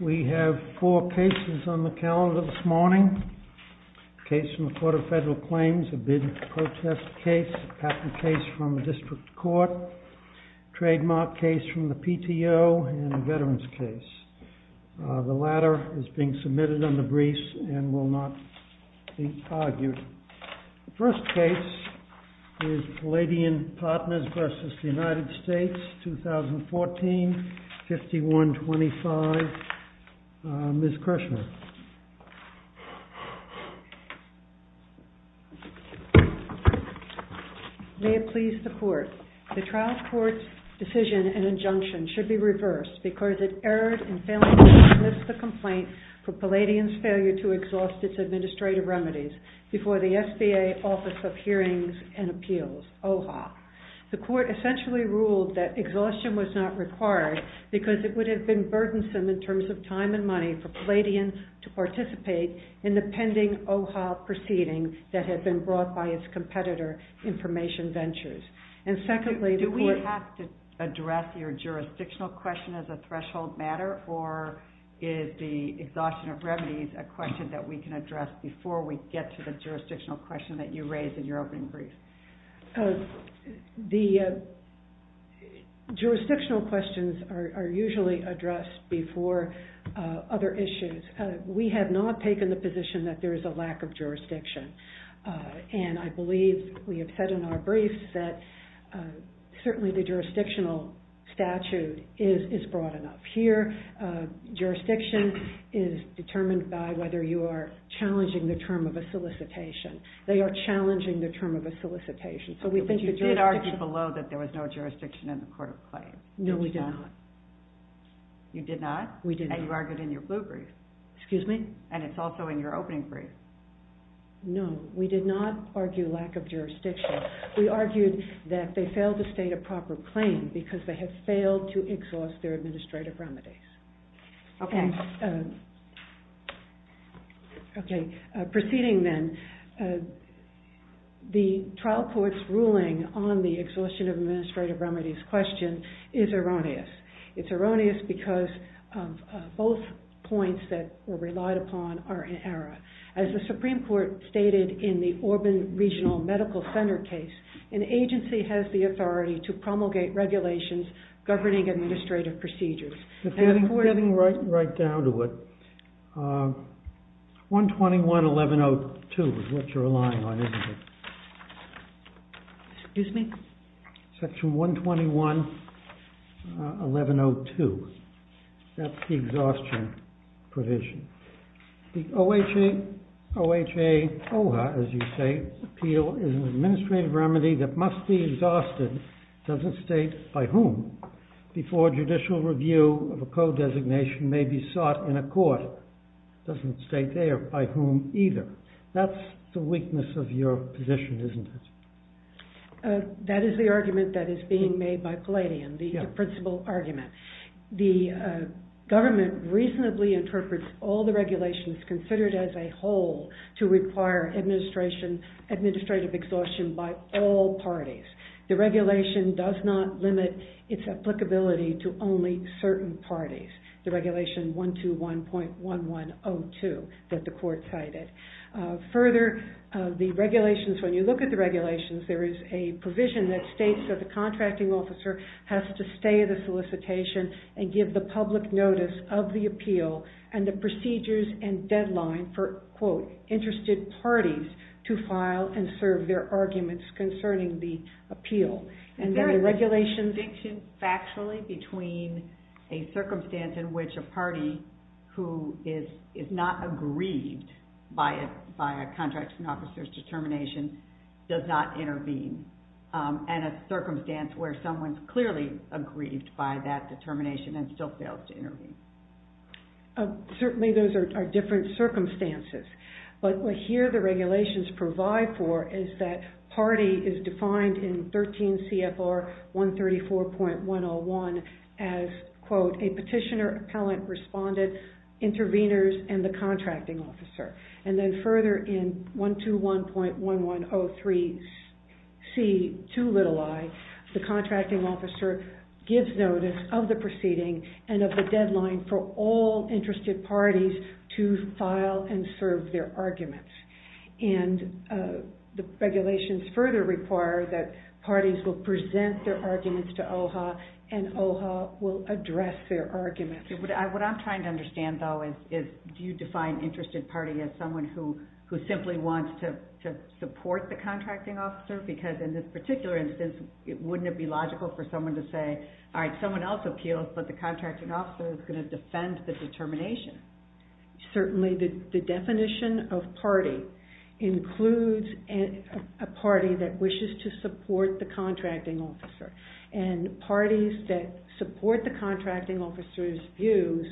We have four cases on the calendar this morning. A case from the Court of Federal Claims, a bid to protest case, a patent case from the District Court, a trademark case from the PTO, and a veterans case. The latter is being submitted under briefs and will not be argued. The first case is Palladian Partners v. United States, 2014, 51-25. Ms. Kershner. May it please the Court, the trial court's decision and injunction should be reversed because it erred in failing to dismiss the complaint for Palladian's failure to exhaust its administrative remedies before the SBA Office of Hearings and Appeals, OHA. The Court essentially ruled that exhaustion was not required because it would have been burdensome in terms of time and money for Palladian to participate in the pending OHA proceeding that had been brought by its competitor, Information Ventures. And secondly, the Court… Do we have to address your jurisdictional question as a threshold matter or is the exhaustion of remedies a question that we can address before we get to the jurisdictional question that you raised in your opening brief? The jurisdictional questions are usually addressed before other issues. We have not taken the position that there is a lack of jurisdiction. And I believe we have said in our briefs that certainly the jurisdictional statute is broad enough. Here, jurisdiction is determined by whether you are challenging the term of a solicitation. They are challenging the term of a solicitation. But you did argue below that there was no jurisdiction in the court of claim. No, we did not. You did not? We did not. And you argued in your blue brief. Excuse me? And it's also in your opening brief. No, we did not argue lack of jurisdiction. We argued that they failed to state a proper claim because they had failed to exhaust their administrative remedies. Okay. Proceeding then. The trial court's ruling on the exhaustion of administrative remedies question is erroneous. It's erroneous because both points that were relied upon are in error. As the Supreme Court stated in the Orban Regional Medical Center case, an agency has the authority to promulgate regulations governing administrative procedures. Getting right down to it. 121-1102 is what you're relying on, isn't it? Excuse me? Section 121-1102. That's the exhaustion provision. The OHA-OHA, as you say, appeal is an administrative remedy that must be exhausted. It doesn't state by whom. Before judicial review of a code designation may be sought in a court. It doesn't state there by whom either. That's the weakness of your position, isn't it? That is the argument that is being made by Palladian, the principal argument. The government reasonably interprets all the regulations considered as a whole to require administrative exhaustion by all parties. The regulation does not limit its applicability to only certain parties. The regulation 121.1102 that the court cited. Further, the regulations, when you look at the regulations, there is a provision that states that the contracting officer has to stay at the solicitation and give the public notice of the appeal and the procedures and deadline for, quote, interested parties to file and serve their arguments concerning the appeal. Is there a distinction factually between a circumstance in which a party who is not aggrieved by a contracting officer's determination does not intervene and a circumstance where someone is clearly aggrieved by that determination and still fails to intervene? Certainly those are different circumstances. But what here the regulations provide for is that party is defined in 13 CFR 134.101 as, quote, a petitioner, appellant, respondent, intervenors, and the contracting officer. And then further in 121.1103C2i, the contracting officer gives notice of the proceeding and of the deadline for all interested parties to file and serve their arguments. And the regulations further require that parties will present their arguments to OHA and OHA will address their arguments. What I'm trying to understand, though, is do you define interested party as someone who simply wants to support the contracting officer? Because in this particular instance, wouldn't it be logical for someone to say, all right, someone else appeals, but the contracting officer is going to defend the determination? Certainly the definition of party includes a party that wishes to support the contracting officer. And parties that support the contracting officer's views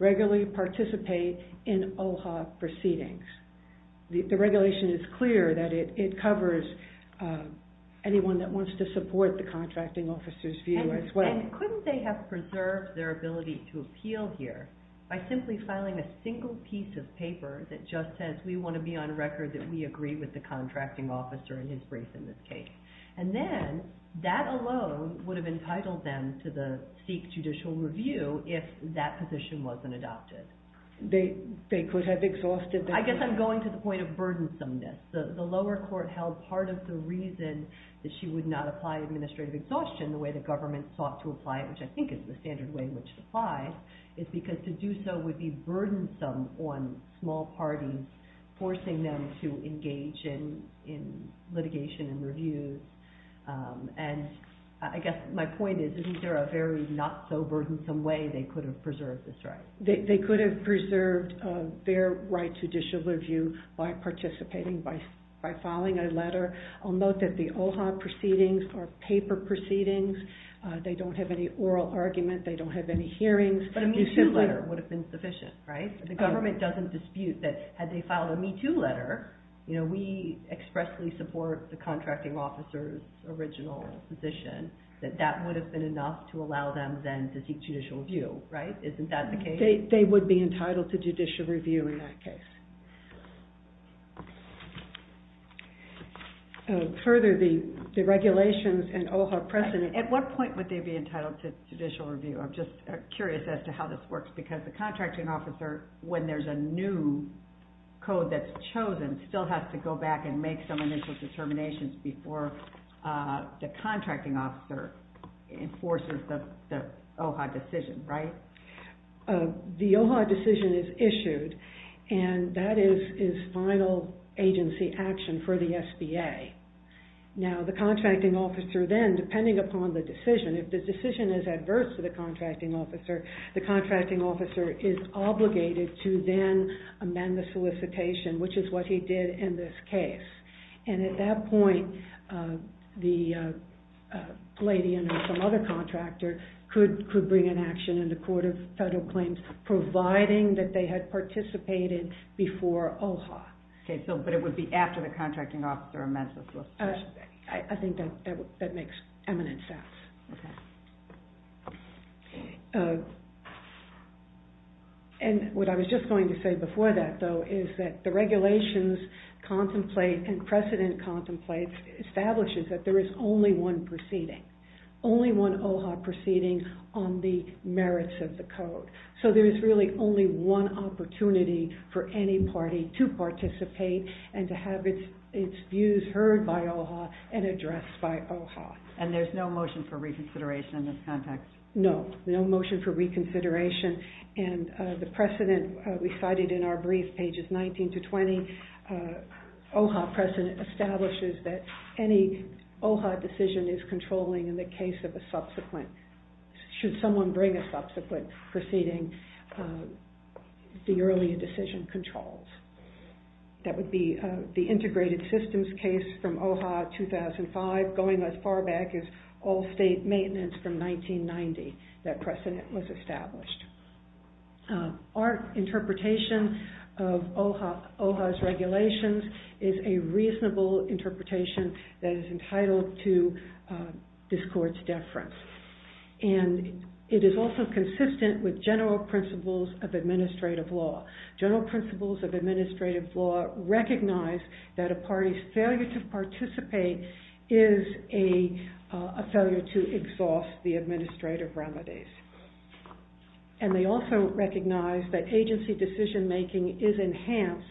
regularly participate in OHA proceedings. The regulation is clear that it covers anyone that wants to support the contracting officer's view as well. And couldn't they have preserved their ability to appeal here by simply filing a single piece of paper that just says we want to be on record that we agree with the contracting officer and his brief in this case? And then that alone would have entitled them to the Sikh judicial review if that position wasn't adopted. They could have exhausted their- I guess I'm going to the point of burdensomeness. The lower court held part of the reason that she would not apply administrative exhaustion the way the government sought to apply it, which I think is the standard way in which it applies, is because to do so would be burdensome on small parties, forcing them to engage in litigation and reviews. And I guess my point is, isn't there a very not-so-burdensome way they could have preserved this right? They could have preserved their right to judicial review by participating, by filing a letter. I'll note that the OHA proceedings are paper proceedings. They don't have any oral argument. They don't have any hearings. But a Me Too letter would have been sufficient, right? The government doesn't dispute that had they filed a Me Too letter, we expressly support the contracting officer's original position, that that would have been enough to allow them then to seek judicial review, right? Isn't that the case? They would be entitled to judicial review in that case. Further, the regulations and OHA precedent, at what point would they be entitled to judicial review? I'm just curious as to how this works, because the contracting officer, when there's a new code that's chosen, still has to go back and make some initial determinations before the contracting officer enforces the OHA decision, right? The OHA decision is issued, and that is final agency action for the SBA. Now, the contracting officer then, depending upon the decision, if the decision is adverse to the contracting officer, the contracting officer is obligated to then amend the solicitation, which is what he did in this case. And at that point, the lady and some other contractor could bring an action in the Court of Federal Claims, providing that they had participated before OHA. Okay, but it would be after the contracting officer amends the solicitation. I think that makes eminent sense. Okay. And what I was just going to say before that, though, is that the regulations contemplate and precedent contemplates, establishes that there is only one proceeding, only one OHA proceeding on the merits of the code. So there is really only one opportunity for any party to participate and to have its views heard by OHA and addressed by OHA. And there's no motion for reconsideration in this context? No, no motion for reconsideration. And the precedent recited in our brief, pages 19 to 20, OHA precedent establishes that any OHA decision is controlling in the case of a subsequent, should someone bring a subsequent proceeding, the earlier decision controls. That would be the integrated systems case from OHA 2005, going as far back as all state maintenance from 1990, that precedent was established. Our interpretation of OHA's regulations is a reasonable interpretation that is entitled to this court's deference. And it is also consistent with general principles of administrative law. General principles of administrative law recognize that a party's failure to participate is a failure to exhaust the administrative remedies. And they also recognize that agency decision making is enhanced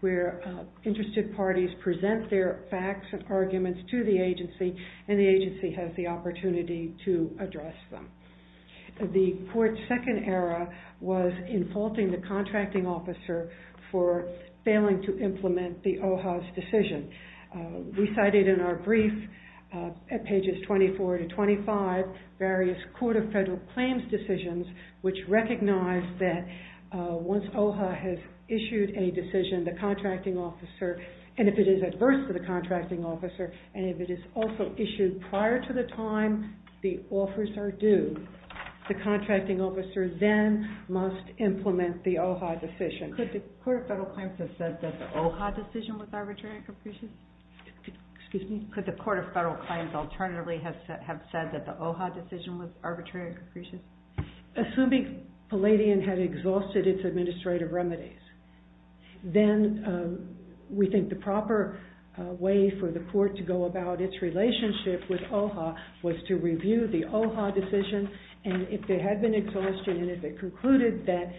where interested parties present their facts and arguments to the agency and the agency has the opportunity to address them. The court's second error was in faulting the contracting officer for failing to implement the OHA's decision. Recited in our brief at pages 24 to 25, various court of federal claims decisions, which recognize that once OHA has issued a decision, the contracting officer, and if it is adverse to the contracting officer, and if it is also issued prior to the time the offers are due, the contracting officer then must implement the OHA decision. Could the court of federal claims have said that the OHA decision was arbitrary and capricious? Excuse me? Could the court of federal claims alternatively have said that the OHA decision was arbitrary and capricious? Assuming Palladian had exhausted its administrative remedies, then we think the proper way for the court to go about its relationship with OHA was to review the OHA decision, and if it had been exhausted, and if it concluded that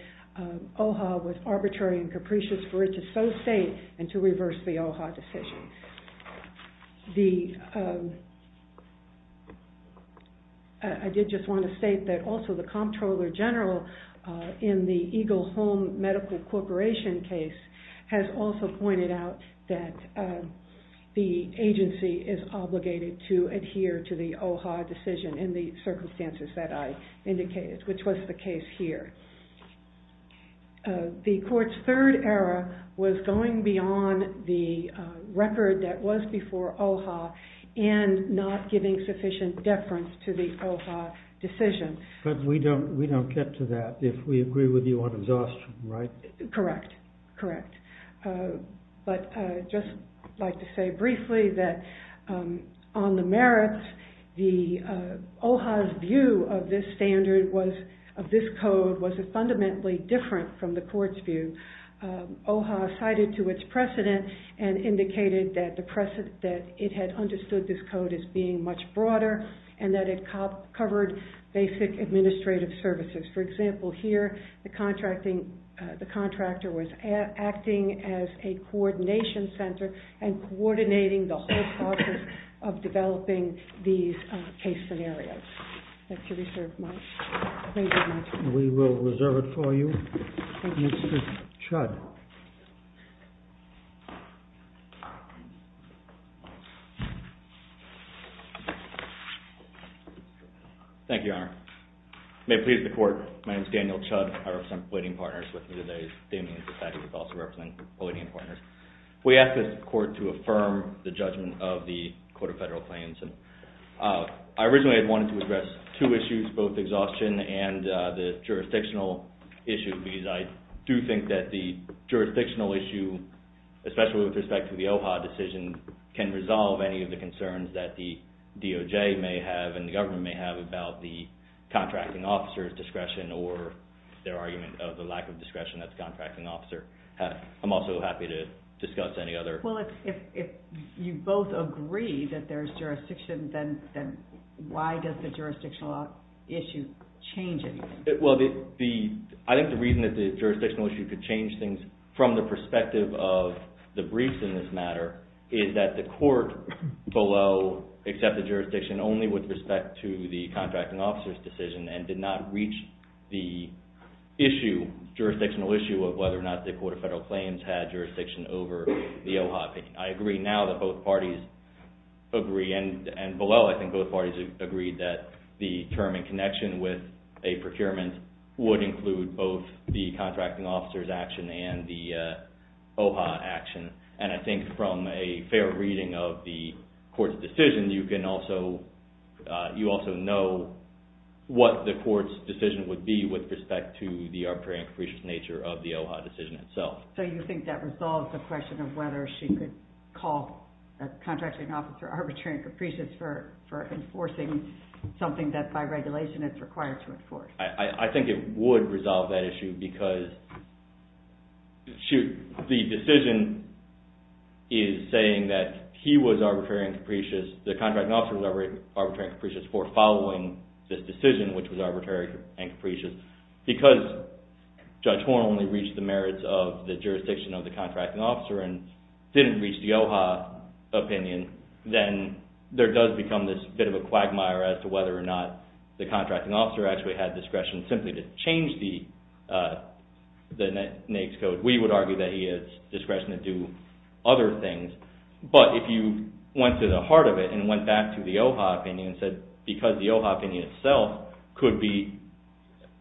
OHA was arbitrary and capricious, for it to so state and to reverse the OHA decision. I did just want to state that also the comptroller general in the Eagle Home Medical Corporation case has also pointed out that the agency is obligated to adhere to the OHA decision in the circumstances that I indicated, which was the case here. The court's third error was going beyond the record that was before OHA and not giving sufficient deference to the OHA decision. But we don't get to that if we agree with you on exhaustion, right? Correct, correct. But I'd just like to say briefly that on the merits, OHA's view of this standard, of this code, was fundamentally different from the court's view. OHA cited to its precedent and indicated that it had understood this code as being much broader and that it covered basic administrative services. For example, here the contractor was acting as a coordination center and coordinating the whole process of developing these case scenarios. Thank you very much. We will reserve it for you. Mr. Chud. Thank you, Your Honor. May it please the court, my name is Daniel Chud. I represent the pleading partners with me today. Damian Sasaki is also representing the pleading partners. We ask this court to affirm the judgment of the Code of Federal Claims. I originally had wanted to address two issues, both exhaustion and the jurisdictional issue, because I do think that the jurisdictional issue, especially with respect to the OHA decision, can resolve any of the concerns that the DOJ may have and the government may have about the contracting officer's discretion or their argument of the lack of discretion of the contracting officer. I'm also happy to discuss any other... Well, if you both agree that there's jurisdiction, then why does the jurisdictional issue change anything? Well, I think the reason that the jurisdictional issue could change things from the perspective of the briefs in this matter is that the court below accepted jurisdiction only with respect to the contracting officer's decision and did not reach the jurisdictional issue of whether or not the Code of Federal Claims had jurisdiction over the OHA. I agree now that both parties agree, and below I think both parties agree that the term in connection with a procurement would include both the contracting officer's action and the OHA action. And I think from a fair reading of the court's decision, you also know what the court's decision would be with respect to the arbitrary and capricious nature of the OHA decision itself. So you think that resolves the question of whether she could call the contracting officer arbitrary and capricious for enforcing something that by regulation is required to enforce? I think it would resolve that issue because the decision is saying that he was arbitrary and capricious, the contracting officer was arbitrary and capricious for following this decision, which was arbitrary and capricious, because Judge Horne only reached the merits of the jurisdiction of the contracting officer and didn't reach the OHA opinion, then there does become this bit of a quagmire as to whether or not the contracting officer actually had discretion simply to change the NAICS Code. We would argue that he has discretion to do other things. But if you went to the heart of it and went back to the OHA opinion and said because the OHA opinion itself could be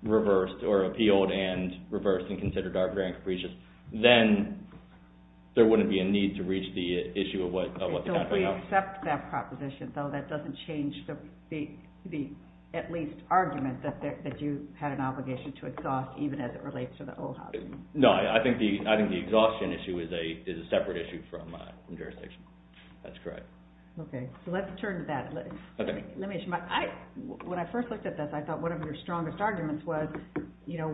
reversed or appealed and reversed and considered arbitrary and capricious, then there wouldn't be a need to reach the issue of what the contracting officer... So we accept that proposition, though that doesn't change the at least argument that you had an obligation to exhaust even as it relates to the OHA opinion. No, I think the exhaustion issue is a separate issue from jurisdiction. That's correct. Okay, so let's turn to that. When I first looked at this, I thought one of your strongest arguments was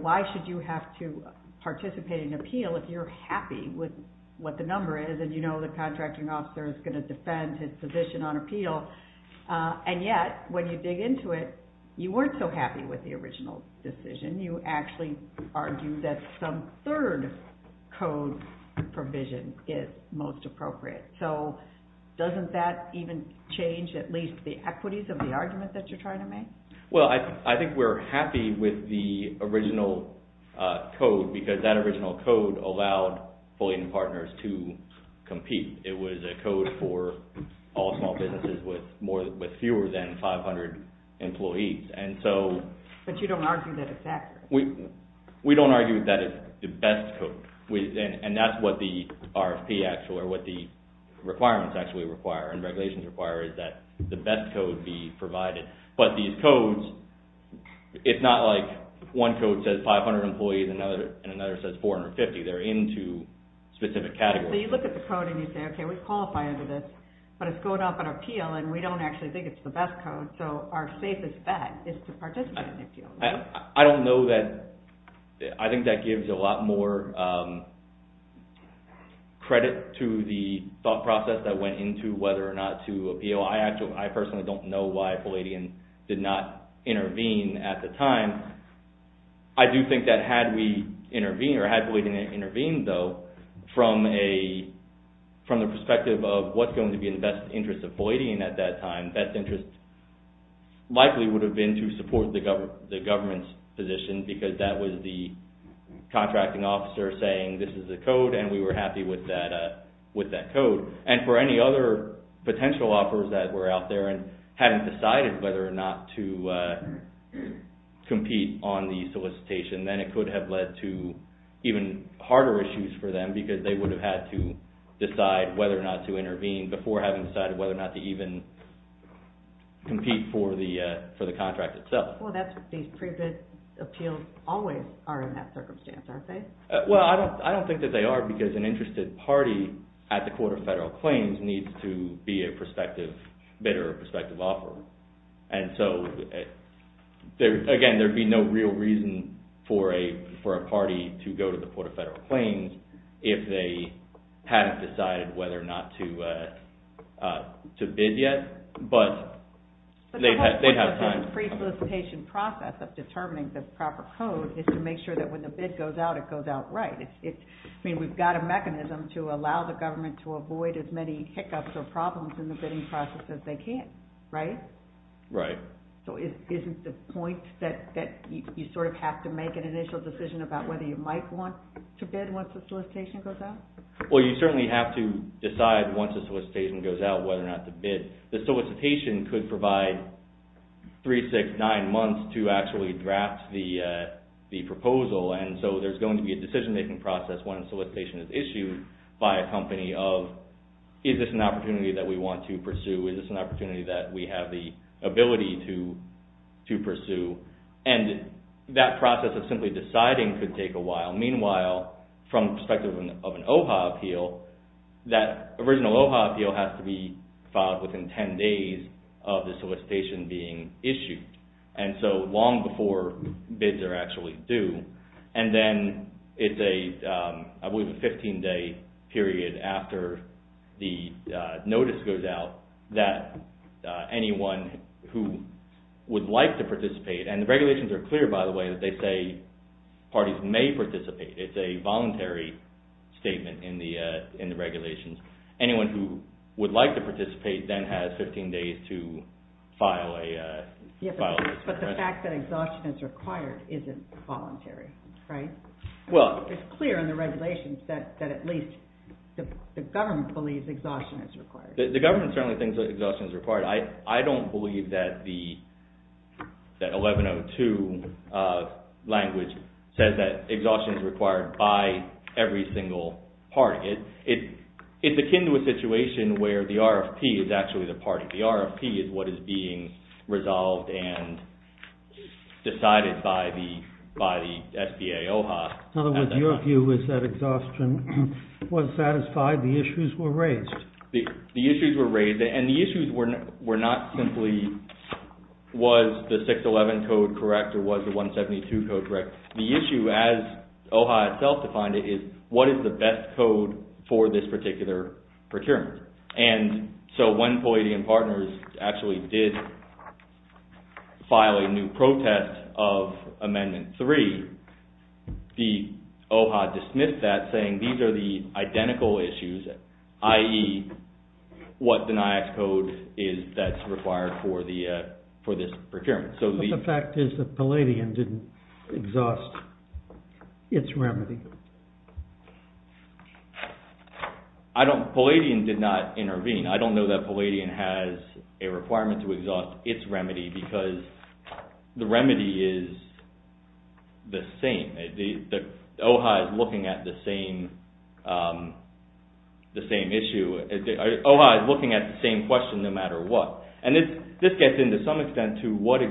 why should you have to participate in an appeal if you're happy with what the number is and you know the contracting officer is going to defend his position on appeal. And yet, when you dig into it, you weren't so happy with the original decision. You actually argued that some third code provision is most appropriate. So doesn't that even change at least the equities of the argument that you're trying to make? Well, I think we're happy with the original code because that original code allowed affiliate partners to compete. It was a code for all small businesses with fewer than 500 employees. But you don't argue that it's accurate. We don't argue that it's the best code. And that's what the RFP actually, or what the requirements actually require and regulations require is that the best code be provided. But these codes, it's not like one code says 500 employees and another says 450. They're into specific categories. So you look at the code and you say, okay, we qualify under this, but it's going up on appeal and we don't actually think it's the best code. So our safest bet is to participate in the appeal. I don't know that, I think that gives a lot more credit to the thought process that went into whether or not to appeal. So I personally don't know why Palladian did not intervene at the time. I do think that had we intervened, or had Palladian intervened though, from the perspective of what's going to be in the best interest of Palladian at that time, best interest likely would have been to support the government's position because that was the contracting officer saying this is the code and we were happy with that code. And for any other potential offers that were out there and hadn't decided whether or not to compete on the solicitation, then it could have led to even harder issues for them because they would have had to decide whether or not to intervene before having decided whether or not to even compete for the contract itself. Well that's what these pre-bid appeals always are in that circumstance, aren't they? Well, I don't think that they are because an interested party at the Court of Federal Claims needs to be a prospective bidder or prospective offeror. And so, again, there would be no real reason for a party to go to the Court of Federal Claims if they hadn't decided whether or not to bid yet, but they'd have time. But the whole point of this pre-solicitation process of determining the proper code is to make sure that when the bid goes out, it goes out right. I mean, we've got a mechanism to allow the government to avoid as many hiccups or problems in the bidding process as they can, right? Right. So isn't the point that you sort of have to make an initial decision about whether you might want to bid once the solicitation goes out? Well, you certainly have to decide once the solicitation goes out whether or not to bid. The solicitation could provide 3, 6, 9 months to actually draft the proposal, and so there's going to be a decision-making process when a solicitation is issued by a company of, is this an opportunity that we want to pursue? Is this an opportunity that we have the ability to pursue? And that process of simply deciding could take a while. Meanwhile, from the perspective of an OHA appeal, that original OHA appeal has to be filed within 10 days of the solicitation being issued, and so long before bids are actually due. And then it's a, I believe, a 15-day period after the notice goes out that anyone who would like to participate, and the regulations are clear, by the way, that they say parties may participate. It's a voluntary statement in the regulations. Anyone who would like to participate then has 15 days to file a request. But the fact that exhaustion is required isn't voluntary, right? Well... It's clear in the regulations that at least the government believes exhaustion is required. The government certainly thinks that exhaustion is required. I don't believe that the 1102 language says that exhaustion is required by every single party. It's akin to a situation where the RFP is actually the party. The RFP is what is being resolved and decided by the SBA OHA. In other words, your view is that exhaustion was satisfied, the issues were raised. The issues were raised, and the issues were not simply, was the 611 code correct or was the 172 code correct? The issue, as OHA itself defined it, is what is the best code for this particular procurement? And so when Polladian Partners actually did file a new protest of Amendment 3, the OHA dismissed that saying these are the identical issues, i.e. what the NIACS code is that's required for this procurement. But the fact is that Polladian didn't exhaust its remedy. I don't... Polladian did not intervene. I don't know that Polladian has a requirement to exhaust its remedy because the remedy is the same. The OHA is looking at the same issue. OHA is looking at the same question no matter what. And this gets into some extent to what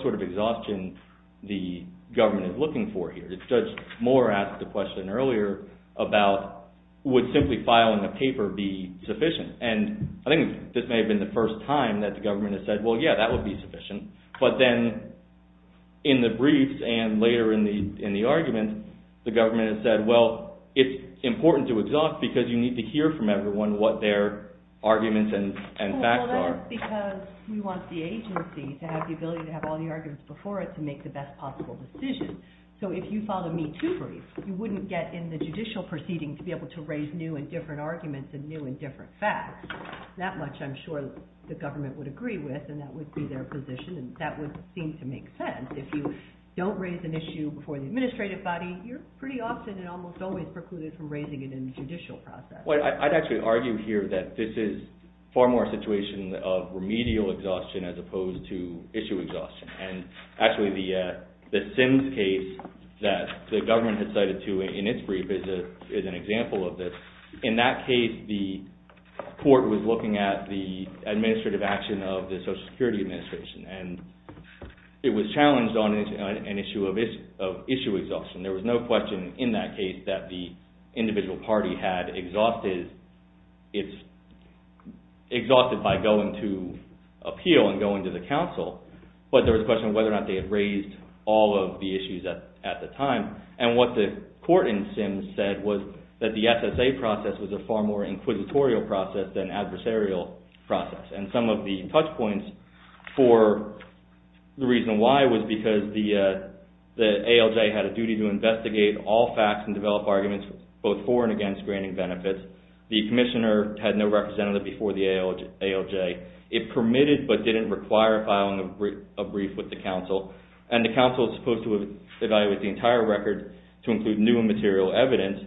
sort of exhaustion the government is looking for here. Judge Mohr asked the question earlier about would simply filing a paper be sufficient? And I think this may have been the first time that the government has said, well, yeah, that would be sufficient. But then in the briefs and later in the argument, the government has said, well, it's important to exhaust because you need to hear from everyone what their arguments and facts are. Well, that's because we want the agency to have the ability to have all the arguments before it to make the best possible decision. So if you filed a Me Too brief, you wouldn't get in the judicial proceeding to be able to raise new and different arguments and new and different facts. That much I'm sure the government would agree with and that would be their position and that would seem to make sense. If you don't raise an issue before the administrative body, you're pretty often and almost always precluded from raising it in the judicial process. Well, I'd actually argue here that this is far more a situation of remedial exhaustion as opposed to issue exhaustion. And actually the Sims case that the government has cited to in its brief is an example of this. In that case, the court was looking at the administrative action of the Social Security Administration and it was challenged on an issue of issue exhaustion. There was no question in that case that the individual party had exhausted by going to appeal and going to the council. But there was a question of whether or not they had raised all of the issues at the time. And what the court in Sims said was that the SSA process was a far more inquisitorial process than adversarial process. And some of the touch points for the reason why was because the ALJ had a duty to investigate all facts and develop arguments both for and against granting benefits. The commissioner had no representative before the ALJ. It permitted but didn't require filing a brief with the council. And the council is supposed to evaluate the entire record to include new and material evidence.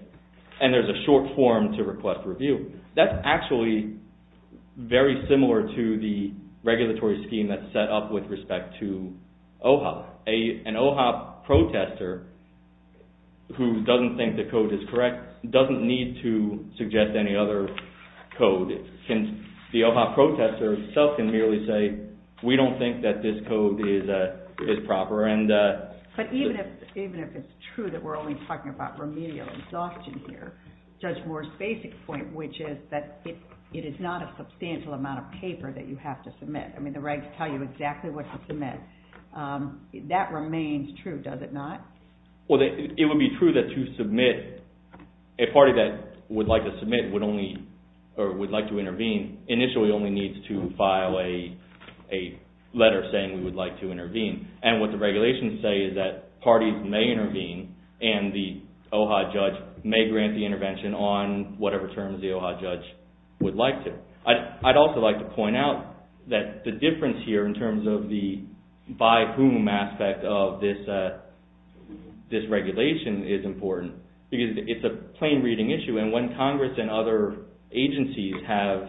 And there's a short form to request review. That's actually very similar to the regulatory scheme that's set up with respect to OHOP. An OHOP protester who doesn't think the code is correct doesn't need to suggest any other code. The OHOP protester himself can merely say, we don't think that this code is proper. But even if it's true that we're only talking about remedial exhaustion here, Judge Moore's basic point which is that it is not a substantial amount of paper that you have to submit. I mean the regs tell you exactly what to submit. That remains true, does it not? It would be true that to submit, a party that would like to submit would only, or would like to intervene, initially only needs to file a letter saying we would like to intervene. And what the regulations say is that parties may intervene and the OHOP judge may grant the intervention on whatever terms the OHOP judge would like to. I'd also like to point out that the difference here in terms of the by whom aspect of this regulation is important. Because it's a plain reading issue and when Congress and other agencies have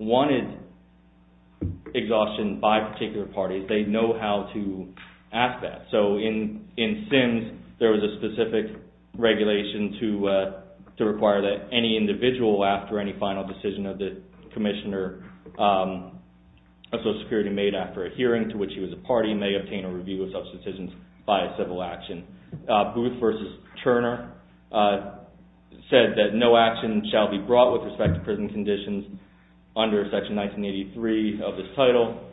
wanted exhaustion by particular parties, they know how to ask that. So in Sims, there was a specific regulation to require that any individual, after any final decision of the Commissioner of Social Security made after a hearing to which he was a party, may obtain a review of such decisions by a civil action. Booth versus Turner said that no action shall be brought with respect to prison conditions under section 1983 of this title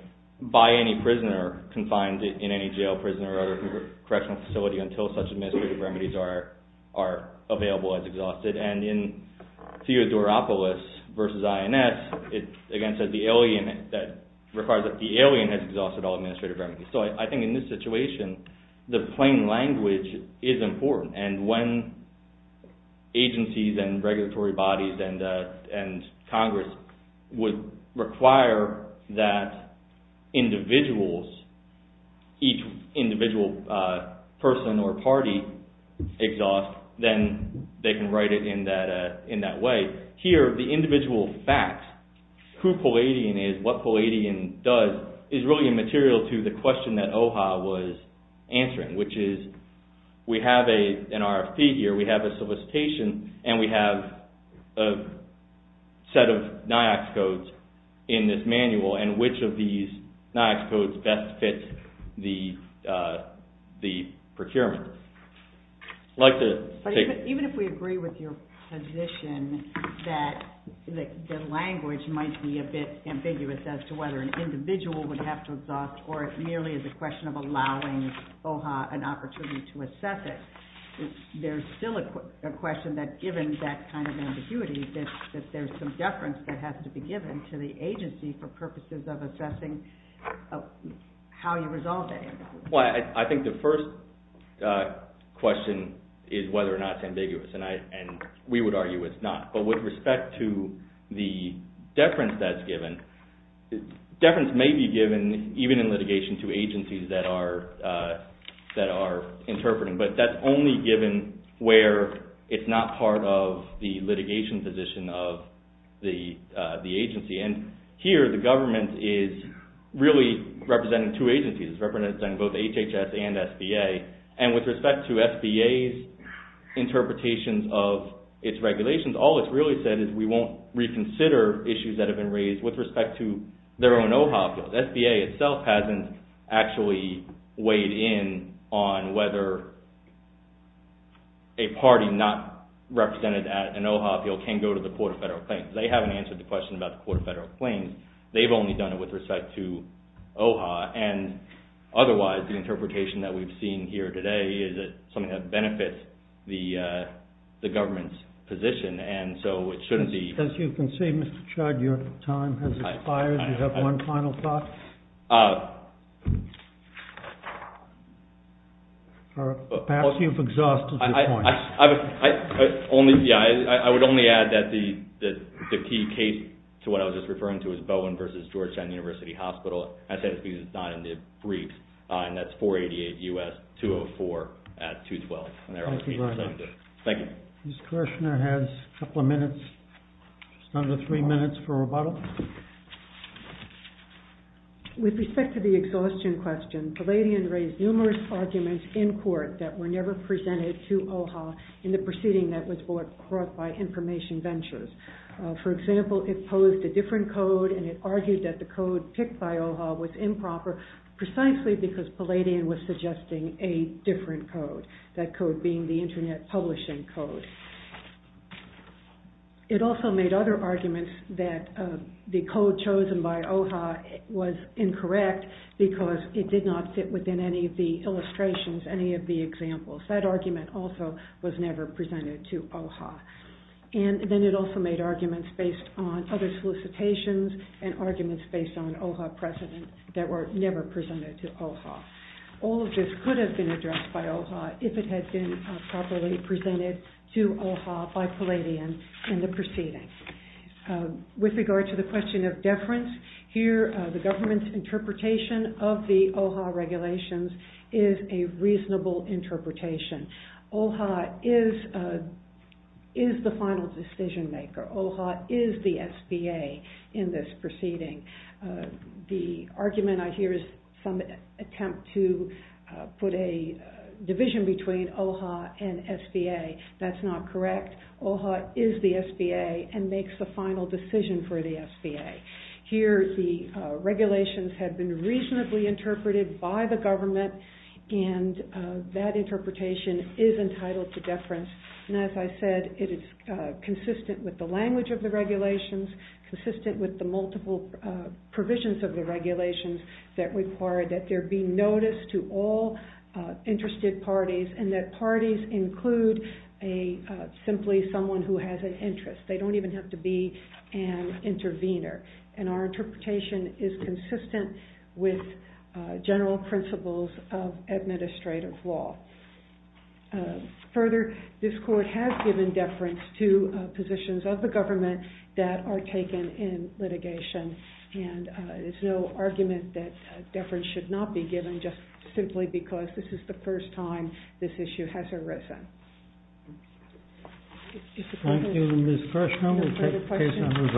by any prisoner confined in any jail, prison or other correctional facility until such administrative remedies are available as exhausted. And in Theodoropoulos versus INS, it again said that the alien has exhausted all administrative remedies. So I think in this situation, the plain language is important. And when agencies and regulatory bodies and Congress would require that individuals, each individual person or party exhaust, then they can write it in that way. Here, the individual fact, who Palladian is, what Palladian does, is really immaterial to the question that OHOP was answering, which is we have an RFP here, we have a solicitation and we have a set of NIACS codes in this manual and which of these NIACS codes best fits the procurement. Even if we agree with your position that the language might be a bit ambiguous as to whether an individual would have to exhaust or it merely is a question of allowing OHOP an opportunity to assess it, there's still a question that given that kind of ambiguity, that there's some deference that has to be given to the agency for purposes of assessing how you resolve it. Well, I think the first question is whether or not it's ambiguous, and we would argue it's not. But with respect to the deference that's given, deference may be given even in litigation to agencies that are interpreting, but that's only given where it's not part of the litigation position of the agency. Here, the government is really representing two agencies, it's representing both HHS and SBA, and with respect to SBA's interpretations of its regulations, all it's really said is we won't reconsider issues that have been raised with respect to their own OHOP. SBA itself hasn't actually weighed in on whether a party not represented at an OHOP can go to the Court of Federal Claims. They haven't answered the question about the Court of Federal Claims. They've only done it with respect to OHOP, and otherwise, the interpretation that we've seen here today is that something that benefits the government's position, and so it shouldn't be— As you can see, Mr. Chod, your time has expired. Do you have one final thought? Perhaps you've exhausted your point. I would only add that the key case to what I was just referring to is Bowen v. Georgetown University Hospital. I say this because it's not in the briefs, and that's 488 U.S. 204 at 212. Thank you very much. Thank you. Ms. Kirshner has a couple of minutes, just under three minutes for rebuttal. With respect to the exhaustion question, Palladian raised numerous arguments in court that were never presented to OHOP in the proceeding that was brought by Information Ventures. For example, it posed a different code, and it argued that the code picked by OHOP was improper precisely because Palladian was suggesting a different code, that code being the Internet Publishing Code. It also made other arguments that the code chosen by OHOP was incorrect because it did not fit within any of the illustrations, any of the examples. That argument also was never presented to OHOP. And then it also made arguments based on other solicitations and arguments based on OHOP precedent that were never presented to OHOP. All of this could have been addressed by OHOP if it had been properly presented to OHOP by Palladian in the proceeding. With regard to the question of deference, here the government's interpretation of the OHOP regulations is a reasonable interpretation. OHOP is the final decision maker. OHOP is the SBA in this proceeding. The argument I hear is some attempt to put a division between OHOP and SBA. That's not correct. OHOP is the SBA and makes the final decision for the SBA. Here the regulations have been reasonably interpreted by the government and that interpretation is entitled to deference. And as I said, it is consistent with the language of the regulations, consistent with the multiple provisions of the regulations that require that there be notice to all interested parties and that parties include simply someone who has an interest. They don't even have to be an intervener. And our interpretation is consistent with general principles of administrative law. Further, this court has given deference to positions of the government that are taken in litigation. And there's no argument that deference should not be given just simply because this is the first time this issue has arisen. Thank you, Ms. Kershner. We'll take the case on review.